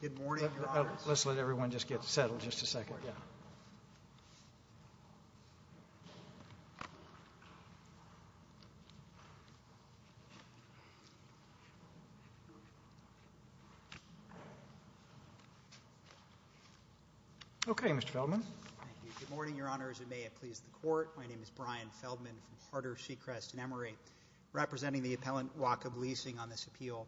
Department of Public Safety. Okay, Mr. Feldman. Thank you. Good morning, Your Honors. It may have pleased the Court. My name is Brian Feldman from Harder Seacrest in Emory, representing the appellant Wacob Leasing on this appeal.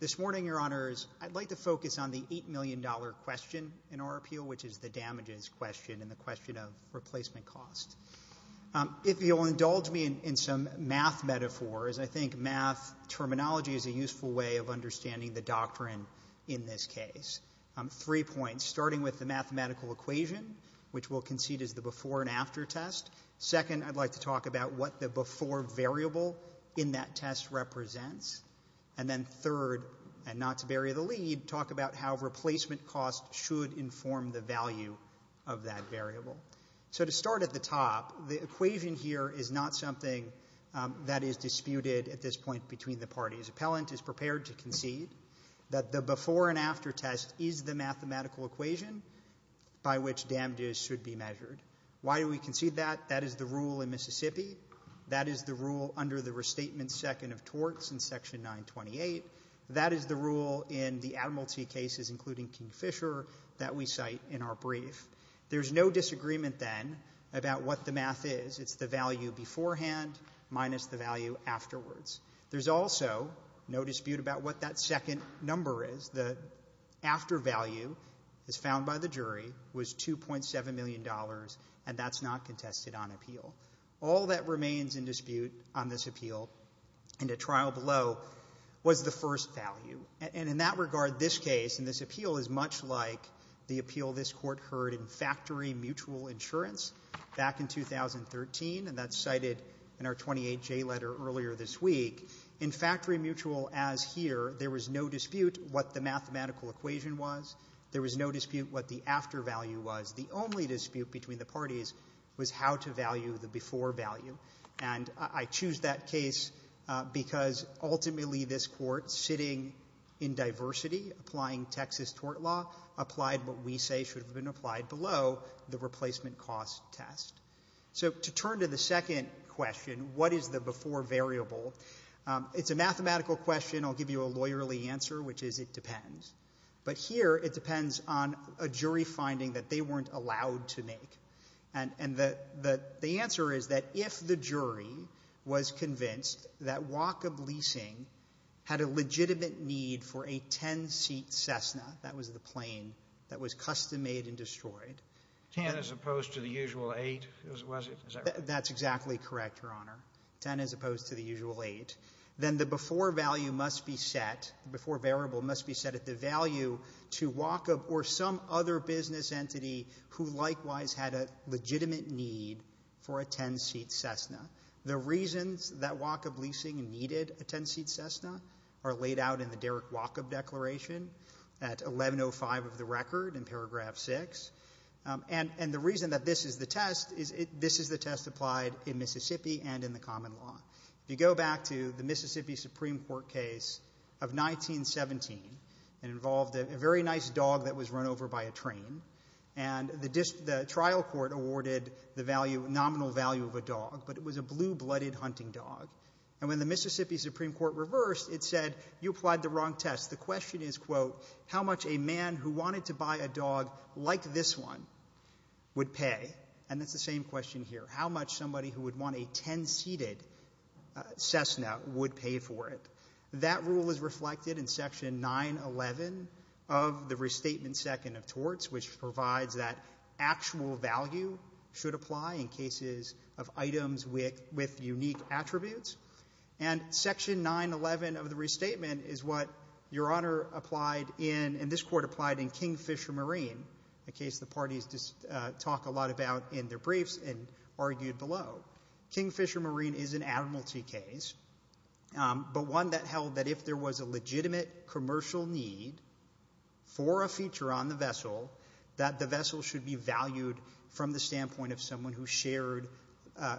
This morning, Your Honors, I'd like to focus on the $8 million question in our appeal, which is the damages question and the question of replacement costs. If you'll indulge me in some math metaphors, I think math terminology is a useful way of three points, starting with the mathematical equation, which we'll concede is the before and after test. Second, I'd like to talk about what the before variable in that test represents. And then third, and not to bury the lead, talk about how replacement costs should inform the value of that variable. So to start at the top, the equation here is not something that is disputed at this point between the parties. The appellant is prepared to concede that the before and after test is the mathematical equation by which damages should be measured. Why do we concede that? That is the rule in Mississippi. That is the rule under the Restatement Second of Torts in Section 928. That is the rule in the Admiralty cases, including Kingfisher, that we cite in our brief. There's no disagreement then about what the math is. It's the value beforehand minus the value afterwards. There's also no dispute about what that second number is, the after value, as found by the jury, was $2.7 million, and that's not contested on appeal. All that remains in dispute on this appeal and at trial below was the first value. And in that regard, this case and this appeal is much like the appeal this Court heard in factory mutual insurance back in 2013, and that's cited in our 28J letter earlier this week. In factory mutual as here, there was no dispute what the mathematical equation was. There was no dispute what the after value was. The only dispute between the parties was how to value the before value. And I choose that case because ultimately this Court, sitting in diversity, applying Texas tort law, applied what we say should have been applied below the replacement cost test. So to turn to the second question, what is the before variable? It's a mathematical question. I'll give you a lawyerly answer, which is it depends. But here it depends on a jury finding that they weren't allowed to make. And the answer is that if the jury was convinced that Wackham Leasing had a legitimate need for a 10-seat Cessna, that was the plane that was custom-made and destroyed. Ten as opposed to the usual eight, was it? That's exactly correct, Your Honor. Ten as opposed to the usual eight. Then the before value must be set, the before variable must be set at the value to Wackham or some other business entity who likewise had a legitimate need for a 10-seat Cessna. The reasons that Wackham Leasing needed a 10-seat Cessna are laid out in the Derek Wackham Declaration at 1105 of the record in paragraph 6. And the reason that this is the test is this is the test applied in Mississippi and in the common law. If you go back to the Mississippi Supreme Court case of 1917, it involved a very nice dog that was run over by a train. And the trial court awarded the nominal value of a dog, but it was a blue-blooded hunting dog. And when the Mississippi Supreme Court reversed, it said, you applied the wrong test. The question is, quote, how much a man who wanted to buy a dog like this one would pay? And that's the same question here. How much somebody who would want a 10-seated Cessna would pay for it? That rule is reflected in section 911 of the Restatement Second of Torts, which provides that actual value should apply in cases of items with unique attributes. And section 911 of the Restatement is what Your Honor applied in, and this Court applied in, Kingfisher Marine, a case the parties talk a lot about in their briefs and argued below. Kingfisher Marine is an admiralty case, but one that held that if there was a legitimate commercial need for a feature on the vessel, that the vessel should be valued from the standpoint of someone who shared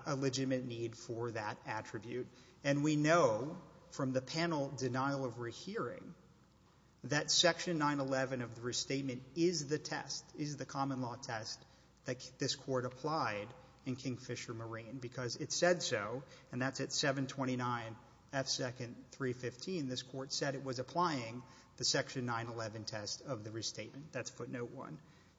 a legitimate need for that attribute. And we know from the panel denial of rehearing that section 911 of the Restatement is the test, is the common law test that this Court applied in Kingfisher Marine, because it said so, and that's at 729 F. 2nd. 315, this Court said it was applying the section 911 test of the Restatement. That's footnote 1.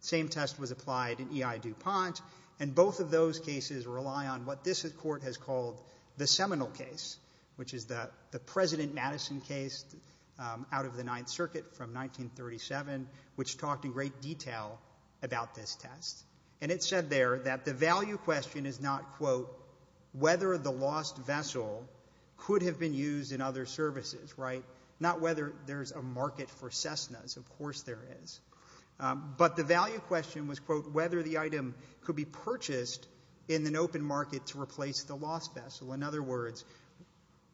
The same test was applied in E.I. DuPont, and both of those cases rely on what this Court has called the seminal case, which is the President Madison case out of the Ninth Circuit from 1937, which talked in great detail about this test. And it said there that the value question is not, quote, whether the lost vessel could have been used in other services, right? Not whether there's a market for Cessnas, of course there is. But the value question was, quote, whether the item could be purchased in an open market to replace the lost vessel. In other words,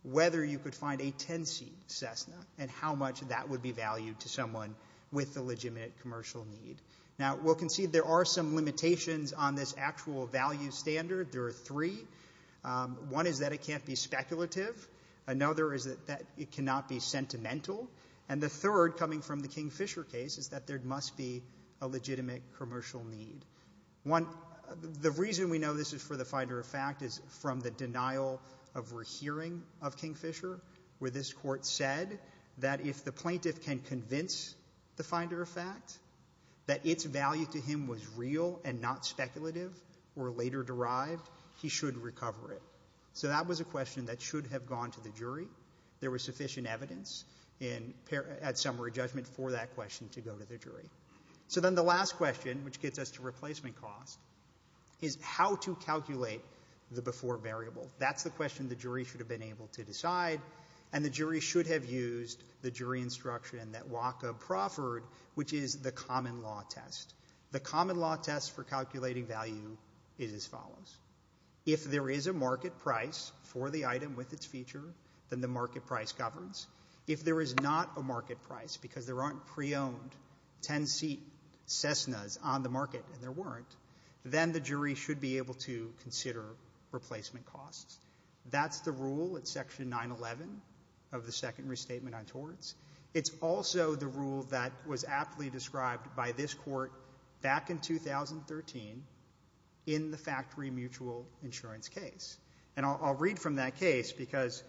whether you could find a 10-seat Cessna, and how much that would be valued to someone with a legitimate commercial need. Now, we'll concede there are some limitations on this actual value standard. There are three. One is that it can't be speculative. Another is that it cannot be sentimental. And the third, coming from the Kingfisher case, is that there must be a legitimate commercial need. One, the reason we know this is for the finder of fact is from the denial of rehearing of Kingfisher, where this Court said that if the plaintiff can convince the finder of fact that its value to him was real and not speculative or later derived, he should recover it. So that was a question that should have gone to the jury. There was sufficient evidence at summary judgment for that question to go to the jury. So then the last question, which gets us to replacement cost, is how to calculate the before variable. That's the question the jury should have been able to decide, and the jury should have used the jury instruction that Wacke proffered, which is the common law test. The common law test for calculating value is as follows. If there is a market price for the item with its feature, then the market price governs. If there is not a market price, because there aren't pre-owned 10-seat Cessnas on the market, and there weren't, then the jury should be able to consider replacement costs. That's the rule at Section 911 of the Second Restatement on Torts. It's also the rule that was aptly described by this Court back in 2013 in the factory mutual insurance case. And I'll read from that case, because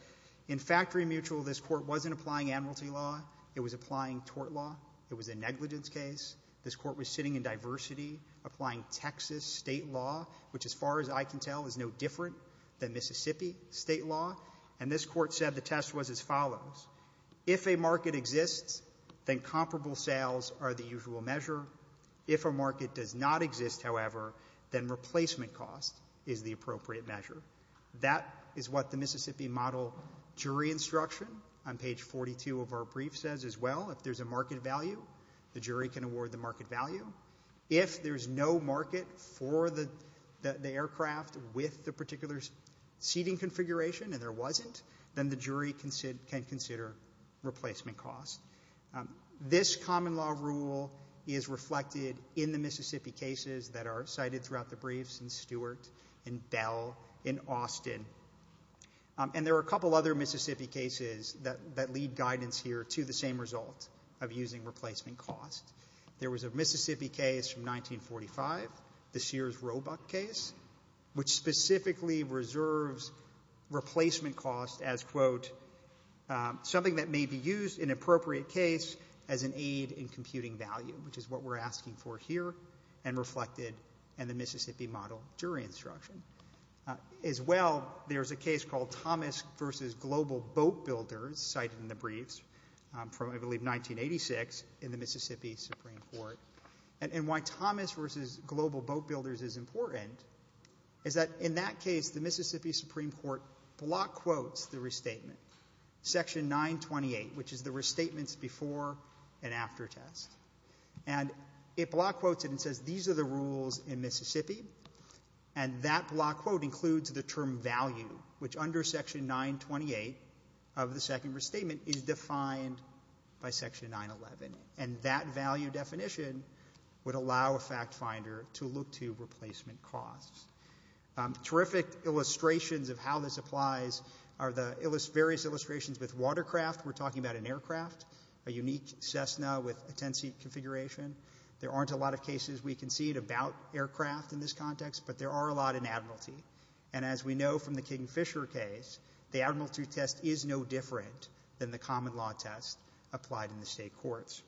in factory mutual, this Court wasn't applying amnesty law. It was applying tort law. It was a negligence case. This Court was sitting in diversity, applying Texas state law, which as far as I can tell is no different than Mississippi state law, and this Court said the test was as follows. If a market exists, then comparable sales are the usual measure. If a market does not exist, however, then replacement cost is the appropriate measure. That is what the Mississippi model jury instruction on page 42 of our brief says as well. If there's a market value, the jury can award the market value. If there's no market for the aircraft with the particular seating configuration and there wasn't, then the jury can consider replacement costs. This common law rule is reflected in the Mississippi cases that are cited throughout the briefs in Stewart, in Bell, in Austin. And there are a couple other Mississippi cases that lead guidance here to the same result of using replacement costs. There was a Mississippi case from 1945, the Sears-Robuck case, which specifically reserves replacement costs as, quote, something that may be used in an appropriate case as an aid in computing value, which is what we're asking for here and reflected in the Mississippi model jury instruction. As well, there's a case called Thomas v. Global Boat Builders cited in the briefs from, I believe, the Mississippi Supreme Court. And why Thomas v. Global Boat Builders is important is that in that case, the Mississippi Supreme Court block quotes the restatement, Section 928, which is the restatements before and after test. And it block quotes it and says these are the rules in Mississippi, and that block quote includes the term value, which under Section 928 of the second restatement is defined by a value definition, would allow a fact finder to look to replacement costs. Terrific illustrations of how this applies are the various illustrations with watercraft. We're talking about an aircraft, a unique Cessna with a 10-seat configuration. There aren't a lot of cases we can see about aircraft in this context, but there are a lot in admiralty. And as we know from the Kingfisher case, the admiralty test is no different than the common law test applied in the state courts.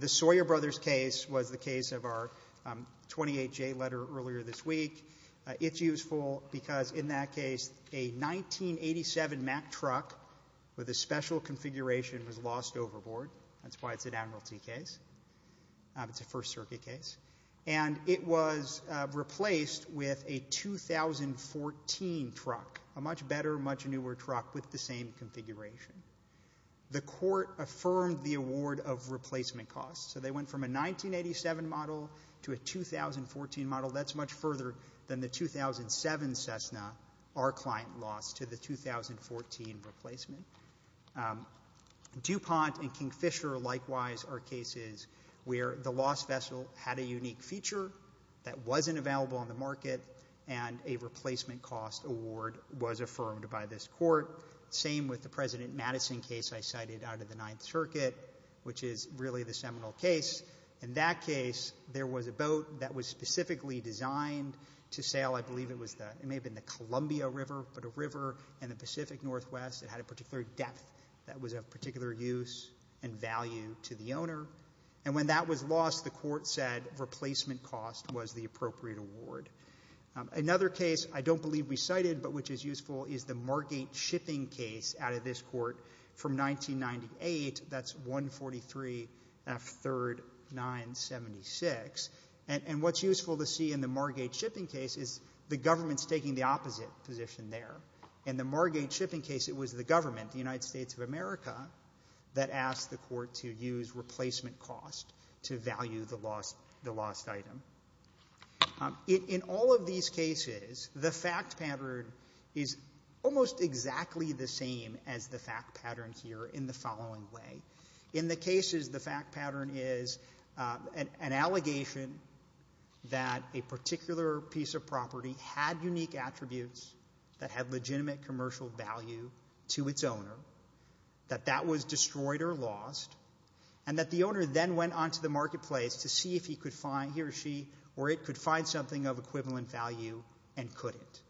The Sawyer Brothers case was the case of our 28-J letter earlier this week. It's useful because in that case, a 1987 Mack truck with a special configuration was lost overboard. That's why it's an admiralty case. It's a First Circuit case. And it was replaced with a 2014 truck, a much better, much newer truck with the same configuration. The court affirmed the award of replacement costs. So they went from a 1987 model to a 2014 model. That's much further than the 2007 Cessna, our client lost, to the 2014 replacement. DuPont and Kingfisher, likewise, are cases where the lost vessel had a unique feature that wasn't available on the market, and a replacement cost award was affirmed by this court. Same with the President Madison case I cited out of the Ninth Circuit, which is really the seminal case. In that case, there was a boat that was specifically designed to sail, I believe it was the, it may have been the Columbia River, but a river in the Pacific Northwest that had a particular depth that was of particular use and value to the owner. And when that was lost, the court said replacement cost was the appropriate award. Another case I don't believe we cited but which is useful is the Margate shipping case out of this court from 1998. That's 143 F. 3rd 976. And what's useful to see in the Margate shipping case is the government's taking the opposite position there. In the Margate shipping case, it was the government, the United States of America, that asked the court to use replacement cost to value the lost item. In all of these cases, the fact pattern is almost exactly the same as the fact pattern here in the following way. In the cases, the fact pattern is an allegation that a particular piece of property had unique attributes that had legitimate commercial value to its owner, that that was destroyed or lost, and that the owner then went on to the marketplace to see if he could find he or she or it could find something of equivalent value and couldn't.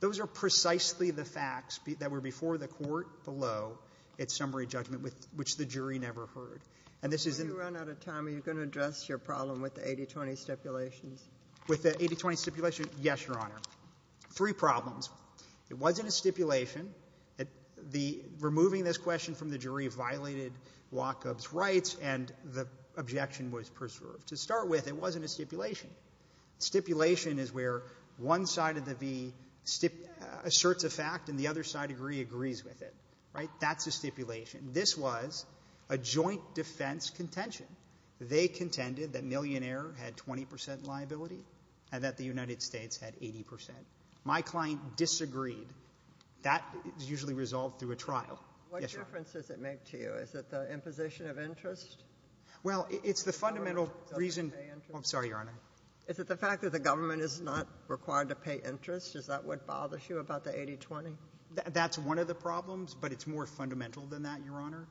Those are precisely the facts that were before the court below its summary judgment, which the jury never heard. And this is in the — When you run out of time, are you going to address your problem with the 80-20 stipulations? With the 80-20 stipulation, yes, Your Honor. Three problems. It wasn't a stipulation. The — removing this question from the jury violated Wacob's rights, and the objection was preserved. To start with, it wasn't a stipulation. Stipulation is where one side of the v asserts a fact and the other side agrees with it. Right? That's a stipulation. This was a joint defense contention. They contended that Millionaire had 20 percent liability and that the United States had 80 percent. My client disagreed. That is usually resolved through a trial. Yes, Your Honor. What difference does it make to you? Is it the imposition of interest? Well, it's the fundamental reason — Is it the government's right to pay interest? I'm sorry, Your Honor. Is it the fact that the government is not required to pay interest? Is that what bothers you about the 80-20? That's one of the problems, but it's more fundamental than that, Your Honor.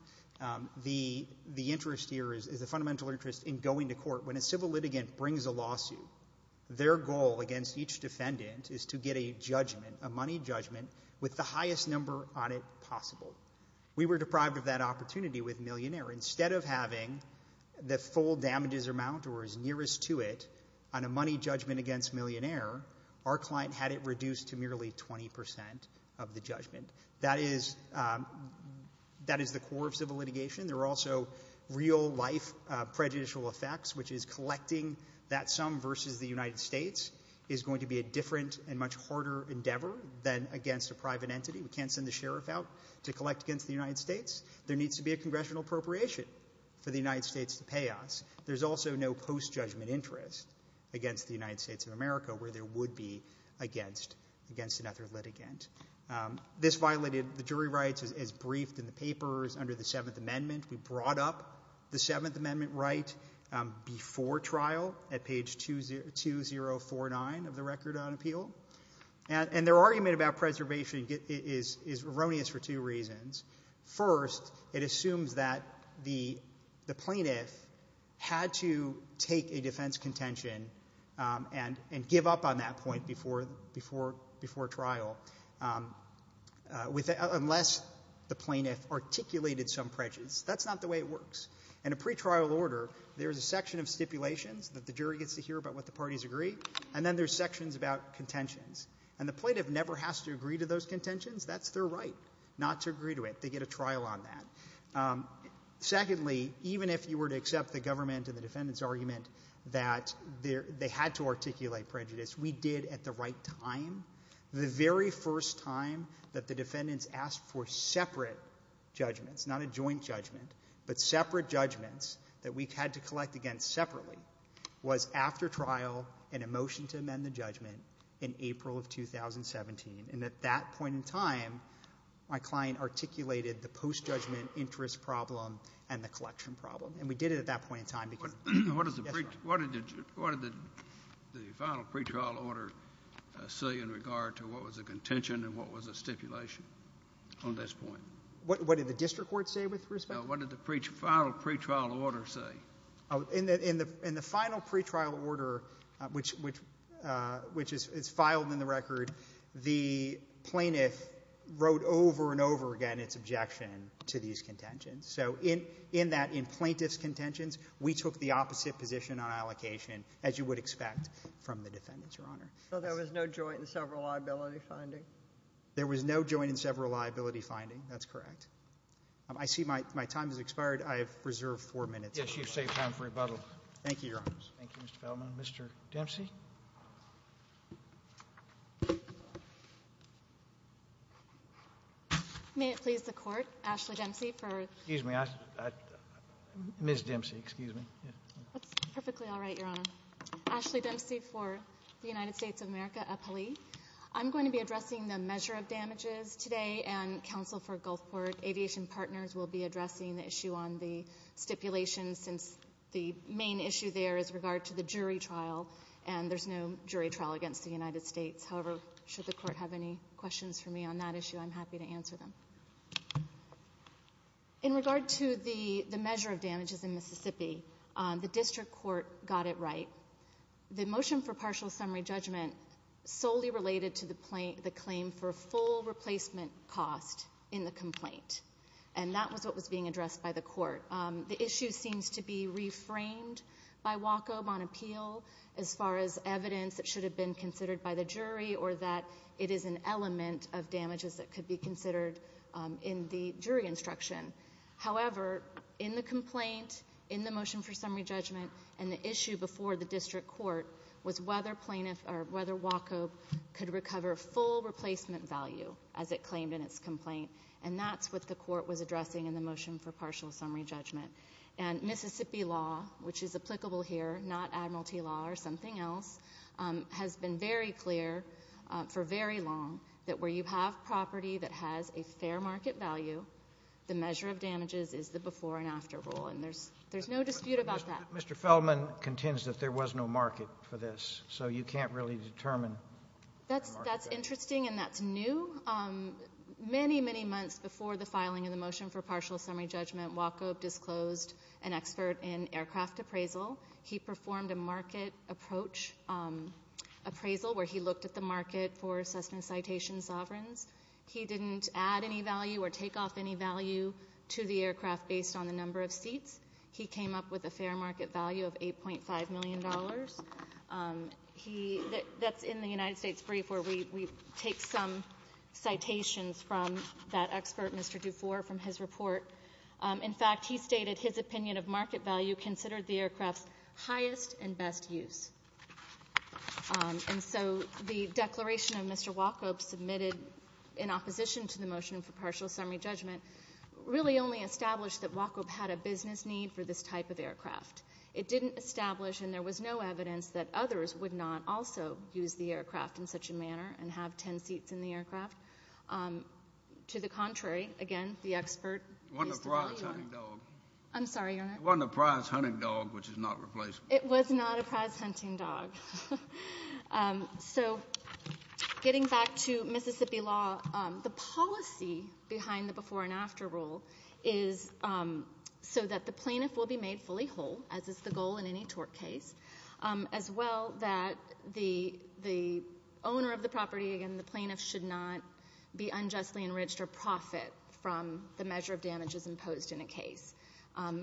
The — the interest here is a fundamental interest in going to court. When a civil litigant brings a lawsuit, their goal against each defendant is to get a judgment, a money judgment, with the highest number on it possible. We were deprived of that opportunity with Millionaire. Instead of having the full damages amount or as nearest to it on a money judgment against Millionaire, our client had it reduced to merely 20 percent of the judgment. That is — that is the core of civil litigation. There are also real-life prejudicial effects, which is collecting that sum versus the United States is going to be a different and much harder endeavor than against a private entity. We can't send the sheriff out to collect against the United States. There needs to be a congressional appropriation for the United States to pay us. There's also no post-judgment interest against the United States of America where there would be against — against another litigant. This violated the jury rights as briefed in the papers under the Seventh Amendment. We brought up the Seventh Amendment right before trial at page 2049 of the Record on Appeal. And their argument about preservation is erroneous for two reasons. First, it assumes that the — the plaintiff had to take a defense contention and — and give up on that point before — before — before trial with — unless the plaintiff articulated some prejudice. That's not the way it works. In a pretrial order, there's a section of stipulations that the jury gets to hear about what the parties agree, and then there's sections about contentions. And the plaintiff never has to agree to those contentions. That's their right not to agree to it. They get a trial on that. Secondly, even if you were to accept the government and the defendant's argument that there — they had to articulate prejudice, we did at the right time. The very first time that the defendants asked for separate judgments, not a joint judgment, but separate judgments that we had to collect against separately, was after trial in a motion to amend the judgment in April of 2017. And at that point in time, my client articulated the post-judgment interest problem and the collection problem. And we did it at that point in time because — What did the final pretrial order say in regard to what was a contention and what was a stipulation on this point? What did the district court say with respect to — What did the final pretrial order say? In the final pretrial order, which is filed in the record, the plaintiff wrote over and over again its objection to these contentions. So in that — in plaintiff's contentions, we took the opposite position on allocation, as you would expect from the defendants, Your Honor. So there was no joint and several liability finding? There was no joint and several liability finding. That's correct. I see my time has expired. I have reserved four minutes. Yes, you've saved time for rebuttal. Thank you, Your Honors. Thank you, Mr. Feldman. Mr. Dempsey. May it please the Court, Ashley Dempsey, for — Excuse me. Ms. Dempsey, excuse me. That's perfectly all right, Your Honor. Ashley Dempsey for the United States of America, APALE. I'm going to be addressing the measure of damages today, and counsel for Gulfport Aviation Partners will be addressing the issue on the stipulations, since the main issue there is regard to the jury trial, and there's no jury trial against the United States. However, should the Court have any questions for me on that issue, I'm happy to answer them. Thank you. In regard to the measure of damages in Mississippi, the district court got it right. The motion for partial summary judgment solely related to the claim for full replacement cost in the complaint, and that was what was being addressed by the court. The issue seems to be reframed by Waco on appeal as far as evidence that should have been considered by the jury or that it is an element of damages that could be in the jury instruction. However, in the complaint, in the motion for summary judgment, and the issue before the district court was whether Waco could recover full replacement value as it claimed in its complaint, and that's what the court was addressing in the motion for partial summary judgment. And Mississippi law, which is applicable here, not admiralty law or something else, has been very clear for very long that where you have property that has a fair market value, the measure of damages is the before and after rule. And there's no dispute about that. Mr. Feldman contends that there was no market for this, so you can't really determine. That's interesting, and that's new. Many, many months before the filing of the motion for partial summary judgment, Waco disclosed an expert in aircraft appraisal. He performed a market approach appraisal where he looked at the market for assessment citation sovereigns. He didn't add any value or take off any value to the aircraft based on the number of seats. He came up with a fair market value of $8.5 million. He — that's in the United States brief where we take some citations from that expert, Mr. DuFour, from his report. In fact, he stated his opinion of market value considered the aircraft's highest and best use. And so the declaration of Mr. Waco submitted in opposition to the motion for partial summary judgment really only established that Waco had a business need for this type of aircraft. It didn't establish, and there was no evidence that others would not also use the aircraft to the contrary. Again, the expert used to value it. It wasn't a prize hunting dog. I'm sorry, Your Honor. It wasn't a prize hunting dog, which is not replaceable. It was not a prize hunting dog. So getting back to Mississippi law, the policy behind the before and after rule is so that the plaintiff will be made fully whole, as is the goal in any tort case, as well that the owner of the property, again, the plaintiff should not be unjustly enriched or profit from the measure of damages imposed in a case.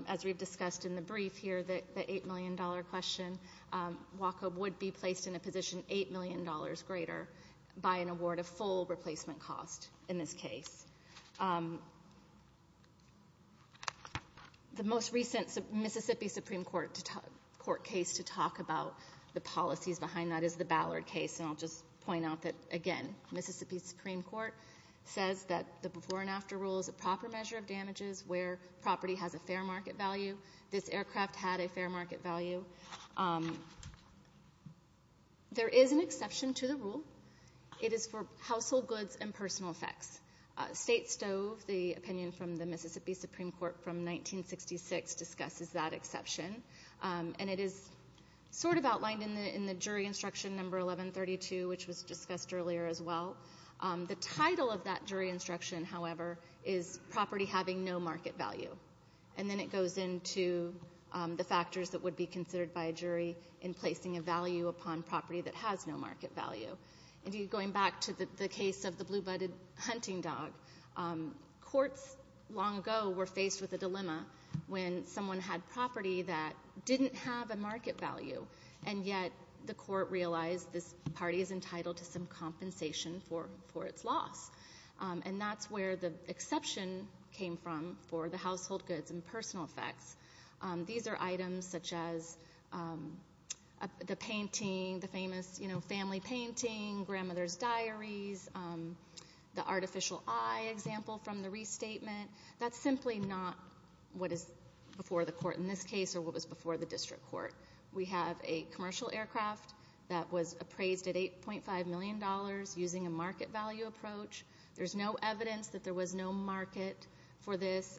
As we've discussed in the brief here, the $8 million question, Waco would be placed in a position $8 million greater by an award of full replacement cost in this case. The most recent Mississippi Supreme Court case to talk about the policies behind that is the Ballard case, and I'll just point out that, again, Mississippi Supreme Court says that the before and after rule is a proper measure of damages where property has a fair market value. This aircraft had a fair market value. There is an exception to the rule. It is for household goods and personal effects. State Stove, the opinion from the Mississippi Supreme Court from 1966, discusses that exception, and it is sort of outlined in the jury instruction number 1132, which was discussed earlier as well. The title of that jury instruction, however, is property having no market value, and then it goes into the factors that would be considered by a jury in placing a value upon property that has no market value. Going back to the case of the blue-budded hunting dog, courts long ago were faced with a dilemma when someone had property that didn't have a market value, and yet the court realized this party is entitled to some compensation for its loss, and that's where the exception came from for the household goods and personal effects. These are items such as the painting, the famous, you know, family painting, grandmother's diaries, the artificial eye example from the restatement. That's simply not what is before the court in this case or what was before the district court. We have a commercial aircraft that was appraised at $8.5 million using a market value approach. There's no evidence that there was no market for this.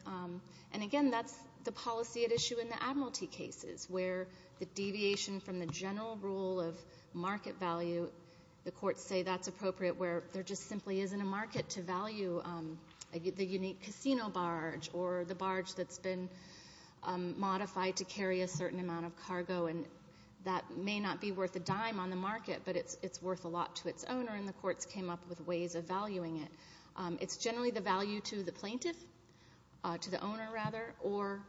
And again, that's the policy at issue in the Admiralty cases where the deviation from the general rule of market value, the courts say that's appropriate where there just simply isn't a market to value the unique casino barge or the barge that's been modified to carry a certain amount of cargo, and that may not be worth a dime on the market, but it's worth a lot to its owner, and the courts came up with ways of valuing it. It's generally the value to the plaintiff, to the owner rather, or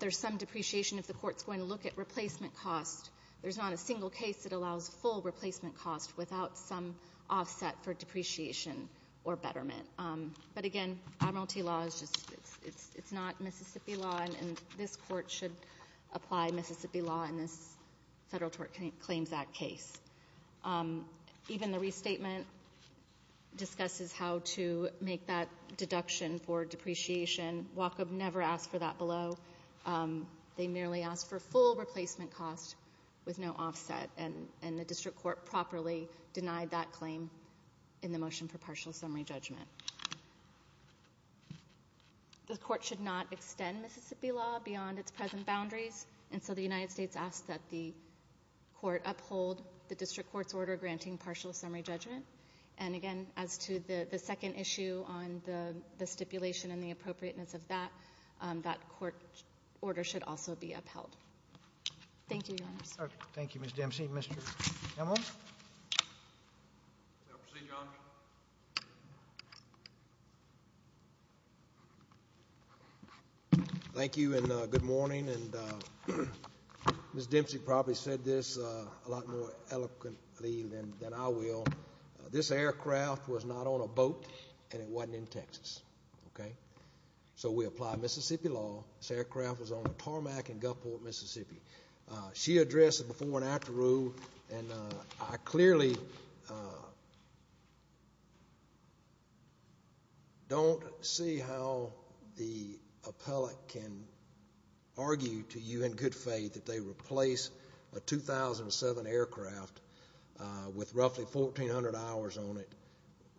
there's some depreciation if the court's going to look at replacement cost. There's not a single case that allows full replacement cost without some offset for depreciation or betterment. But again, Admiralty law is just, it's not Mississippi law, and this court should apply Mississippi law in this Federal Tort Claims Act case. Even the restatement discusses how to make that deduction for depreciation. Waco never asked for that below. They merely asked for full replacement cost with no offset, and the district court properly denied that claim in the motion for partial summary judgment. The court should not extend Mississippi law beyond its present boundaries, and so the district court's order granting partial summary judgment. And again, as to the second issue on the stipulation and the appropriateness of that, that court order should also be upheld. Thank you, Your Honors. All right. Thank you, Ms. Dempsey. Mr. Emmons? May I proceed, Your Honor? Thank you, and good morning. And Ms. Dempsey probably said this a lot more eloquently than I will. This aircraft was not on a boat, and it wasn't in Texas, okay? So we apply Mississippi law. This aircraft was on a tarmac in Gulfport, Mississippi. She addressed the before and after rule, and I clearly don't see how the appellate can argue to you in good faith that they replace a 2007 aircraft with roughly 1,400 hours on it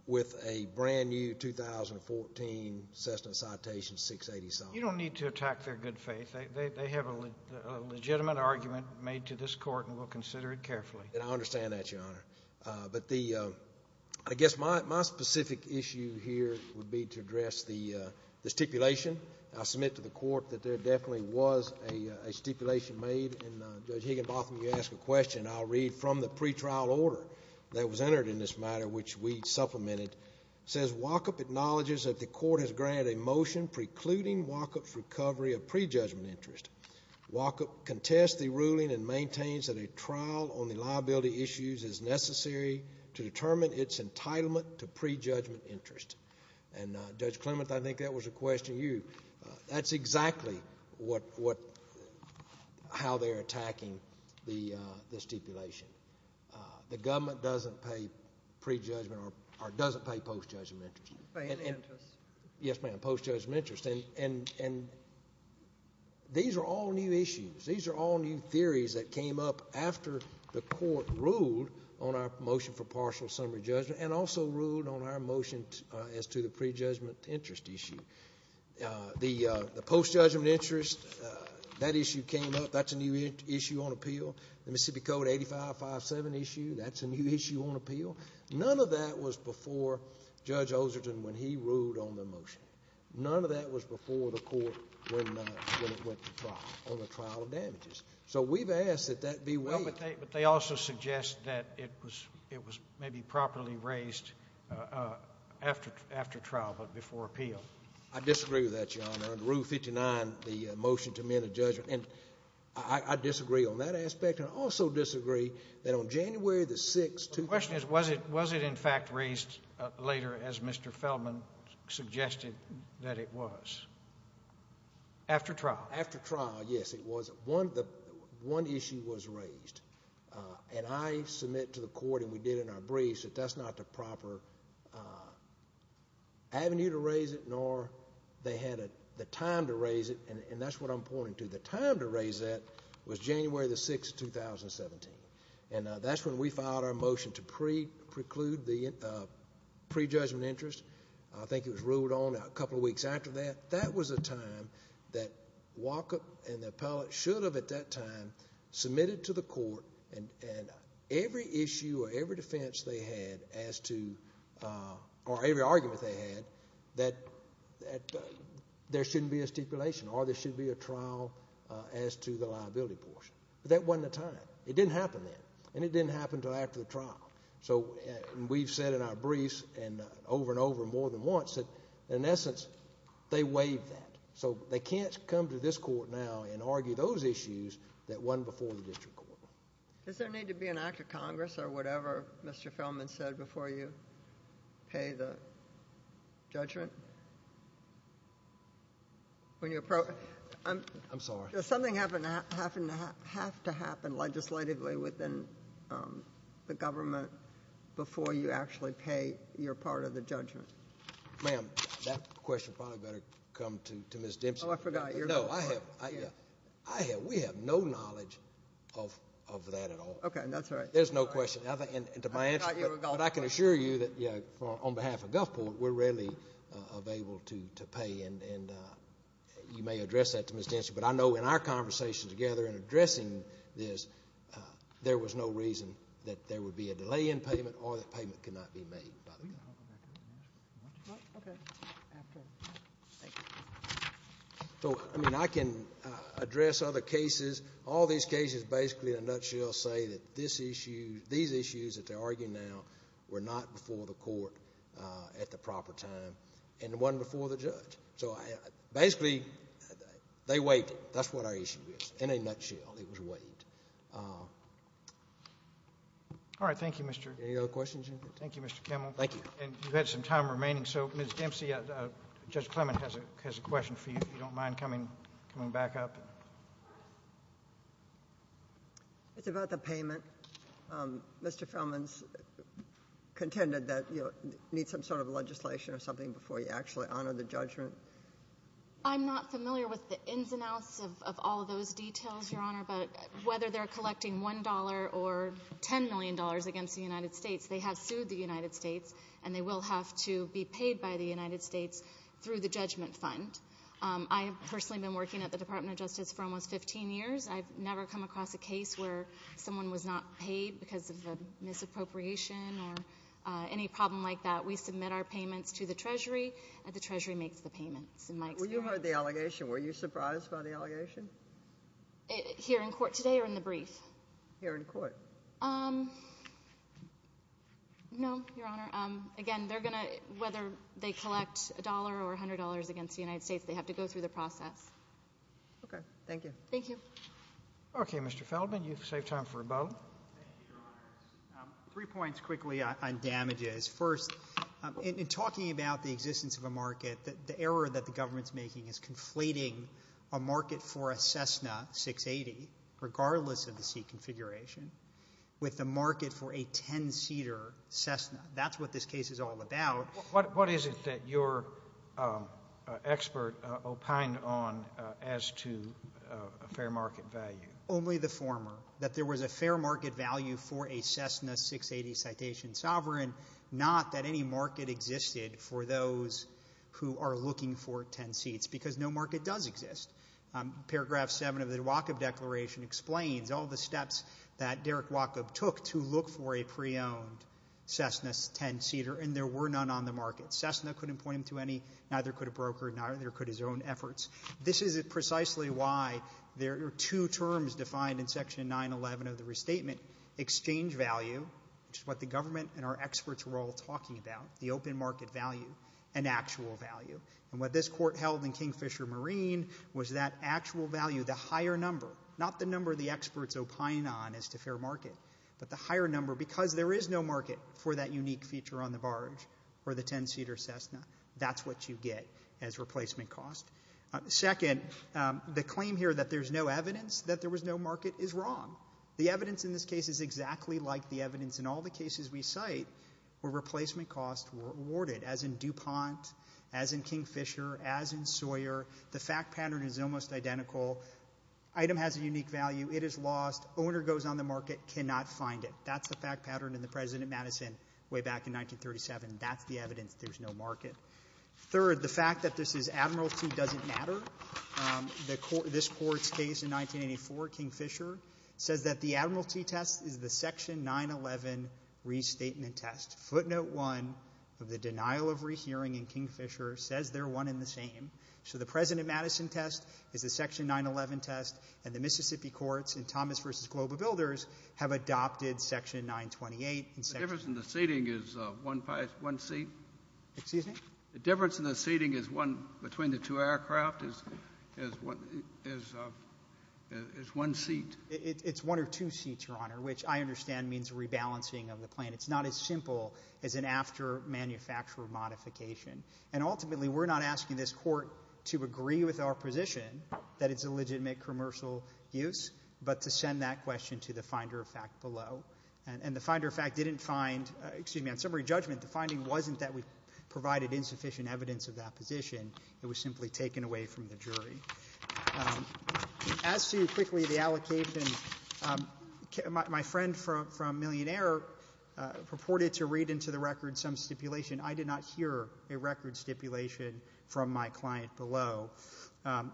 with a brand-new 2014 Cessna Citation 687. You don't need to attack their good faith. They have a legitimate argument made to this court, and we'll consider it carefully. I understand that, Your Honor. But I guess my specific issue here would be to address the stipulation. I submit to the court that there definitely was a stipulation made, and Judge Higginbotham, you asked a question. I'll read from the pretrial order that was entered in this matter, which we supplemented. It says, Walkup acknowledges that the court has granted a motion precluding Walkup's recovery of prejudgment interest. Walkup contests the ruling and maintains that a trial on the liability issues is necessary to determine its entitlement to prejudgment interest. And Judge Clement, I think that was a question to you. That's exactly how they're attacking the stipulation. The government doesn't pay prejudgment or doesn't pay post-judgment interest. Pay any interest. Yes, ma'am, post-judgment interest. And these are all new issues. These are all new theories that came up after the court ruled on our motion for partial summary judgment and also ruled on our motion as to the prejudgment interest issue. The post-judgment interest, that issue came up. That's a new issue on appeal. The Mississippi Code 8557 issue, that's a new issue on appeal. None of that was before Judge Olserton when he ruled on the motion. None of that was before the court when it went to trial, on the trial of damages. So we've asked that that be waived. Well, but they also suggest that it was maybe properly raised after trial, but before appeal. I disagree with that, Your Honor. Under Rule 59, the motion to amend a judgment. And I disagree on that aspect. And I also disagree that on January the 6th, 2000— Was it in fact raised later as Mr. Feldman suggested that it was? After trial? After trial, yes, it was. One issue was raised. And I submit to the court, and we did in our briefs, that that's not the proper avenue to raise it, nor they had the time to raise it. And that's what I'm pointing to. The time to raise that was January the 6th, 2017. And that's when we filed our motion to preclude the prejudgment interest. I think it was ruled on a couple of weeks after that. That was a time that WACA and the appellate should have, at that time, submitted to the court, and every issue or every defense they had as to—or every argument they had that there shouldn't be a stipulation or there should be a trial as to the liability portion. But that wasn't the time. It didn't happen then. And it didn't happen until after the trial. So we've said in our briefs and over and over more than once that, in essence, they waived that. So they can't come to this court now and argue those issues that won before the district court. Does there need to be an act of Congress or whatever Mr. Feldman said before you pay the judgment? When you— I'm sorry. Does something have to happen legislatively within the government before you actually pay your part of the judgment? Ma'am, that question probably better come to Ms. Dempsey. Oh, I forgot. No, I have—we have no knowledge of that at all. Okay, that's right. There's no question. I thought you were Gulfport. But I can assure you that, you know, on behalf of Gulfport, we're readily available to pay. And you may address that to Ms. Dempsey. But I know in our conversation together in addressing this, there was no reason that there would be a delay in payment or that payment could not be made by the government. Can we go back to the next one? Okay. So, I mean, I can address other cases. All these cases basically, in a nutshell, say that these issues that they're arguing now were not before the court at the proper time. And it wasn't before the judge. So basically, they waited. That's what our issue is. In a nutshell, it was wait. All right. Thank you, Mr. — Any other questions? Thank you, Mr. Kemmel. Thank you. And you've had some time remaining. So, Ms. Dempsey, Judge Clement has a question for you, if you don't mind coming back up. It's about the payment. Mr. Feldman's contended that you need some sort of legislation or something before you actually honor the judgment. I'm not familiar with the ins and outs of all of those details, Your Honor. But whether they're collecting $1 or $10 million against the United States, they have sued the United States, and they will have to be paid by the United States through the judgment fund. I have personally been working at the Department of Justice for almost 15 years. I've never come across a case where someone was not paid because of a misappropriation or any problem like that. We submit our payments to the Treasury, and the Treasury makes the payments, in my experience. When you heard the allegation, were you surprised by the allegation? Here in court today or in the brief? Here in court. No, Your Honor. Again, they're going to — whether they collect $1 or $100 against the United States, they have to go through the process. OK. Thank you. Thank you. OK. Mr. Feldman, you've saved time for a vote. Thank you, Your Honors. Three points quickly on damages. First, in talking about the existence of a market, the error that the government's making is conflating a market for a Cessna 680, regardless of the seat configuration, with a market for a 10-seater Cessna. That's what this case is all about. What is it that your expert opined on as to a fair market value? Only the former. That there was a fair market value for a Cessna 680 Citation Sovereign, not that any market existed for those who are looking for 10 seats, because no market does exist. Paragraph 7 of the Wacob Declaration explains all the steps that Derek Wacob took to look for a pre-owned Cessna 10-seater, and there were none on the market. Cessna couldn't point him to any. Neither could a broker. Neither could his own efforts. This is precisely why there are two terms defined in Section 911 of the restatement, exchange value, which is what the government and our experts were all talking about, the open market value, and actual value. And what this court held in Kingfisher Marine was that actual value, the higher number, not the number the experts opined on as to fair market, but the higher number, because there is no market for that unique feature on the barge or the 10-seater Cessna, that's what you get as replacement cost. Second, the claim here that there's no evidence that there was no market is wrong. The evidence in this case is exactly like the evidence in all the cases we cite where replacement costs were awarded, as in DuPont, as in Kingfisher, as in Sawyer. The fact pattern is almost identical. Item has a unique value. It is lost. Owner goes on the market, cannot find it. That's the fact pattern in the President Madison way back in 1937. That's the evidence there's no market. Third, the fact that this is admiralty doesn't matter. This Court's case in 1984, Kingfisher, says that the admiralty test is the Section 911 restatement test. Footnote 1 of the denial of rehearing in Kingfisher says they're one and the same. So the President Madison test is the Section 911 test, and the Mississippi courts in Thomas v. Global Builders have adopted Section 928. The difference in the seating is one seat? Excuse me? The difference in the seating between the two aircraft is one seat? It's one or two seats, Your Honor, which I understand means rebalancing of the plan. It's not as simple as an after-manufacturer modification. And ultimately, we're not asking this Court to agree with our position that it's a legitimate commercial use, but to send that question to the finder of fact below. And the finder of fact didn't find, excuse me, on summary judgment, the finding wasn't that we provided insufficient evidence of that position. It was simply taken away from the jury. As to, quickly, the allocation, my friend from Millionaire purported to read into the stipulation from my client below.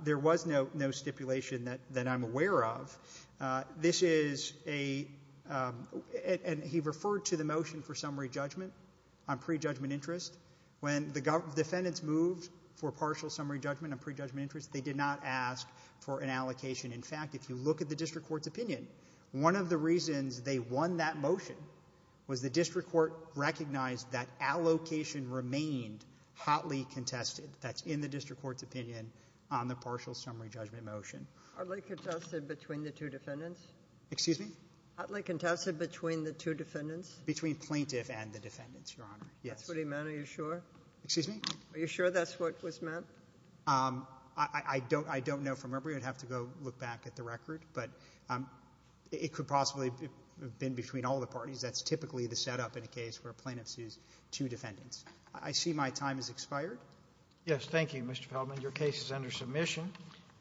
There was no stipulation that I'm aware of. This is a, and he referred to the motion for summary judgment on pre-judgment interest. When the defendants moved for partial summary judgment on pre-judgment interest, they did not ask for an allocation. In fact, if you look at the district court's opinion, one of the reasons they won that motion was the district court recognized that allocation remained hotly contested. That's in the district court's opinion on the partial summary judgment motion. »» Hotly contested between the two defendants? »» Excuse me? »» Hotly contested between the two defendants? »» Between plaintiff and the defendants, Your Honor. »» That's what he meant, are you sure? »» Excuse me? »» Are you sure that's what was meant? »» I don't know from memory. I'd have to go look back at the record. But it could possibly have been between all the parties. That's typically the setup in a case where a plaintiff sues two defendants. I see my time has expired. »» Yes. Thank you, Mr. Feldman. Your case is under submission.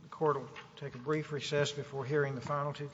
The Court will take a brief recess before hearing the final two cases.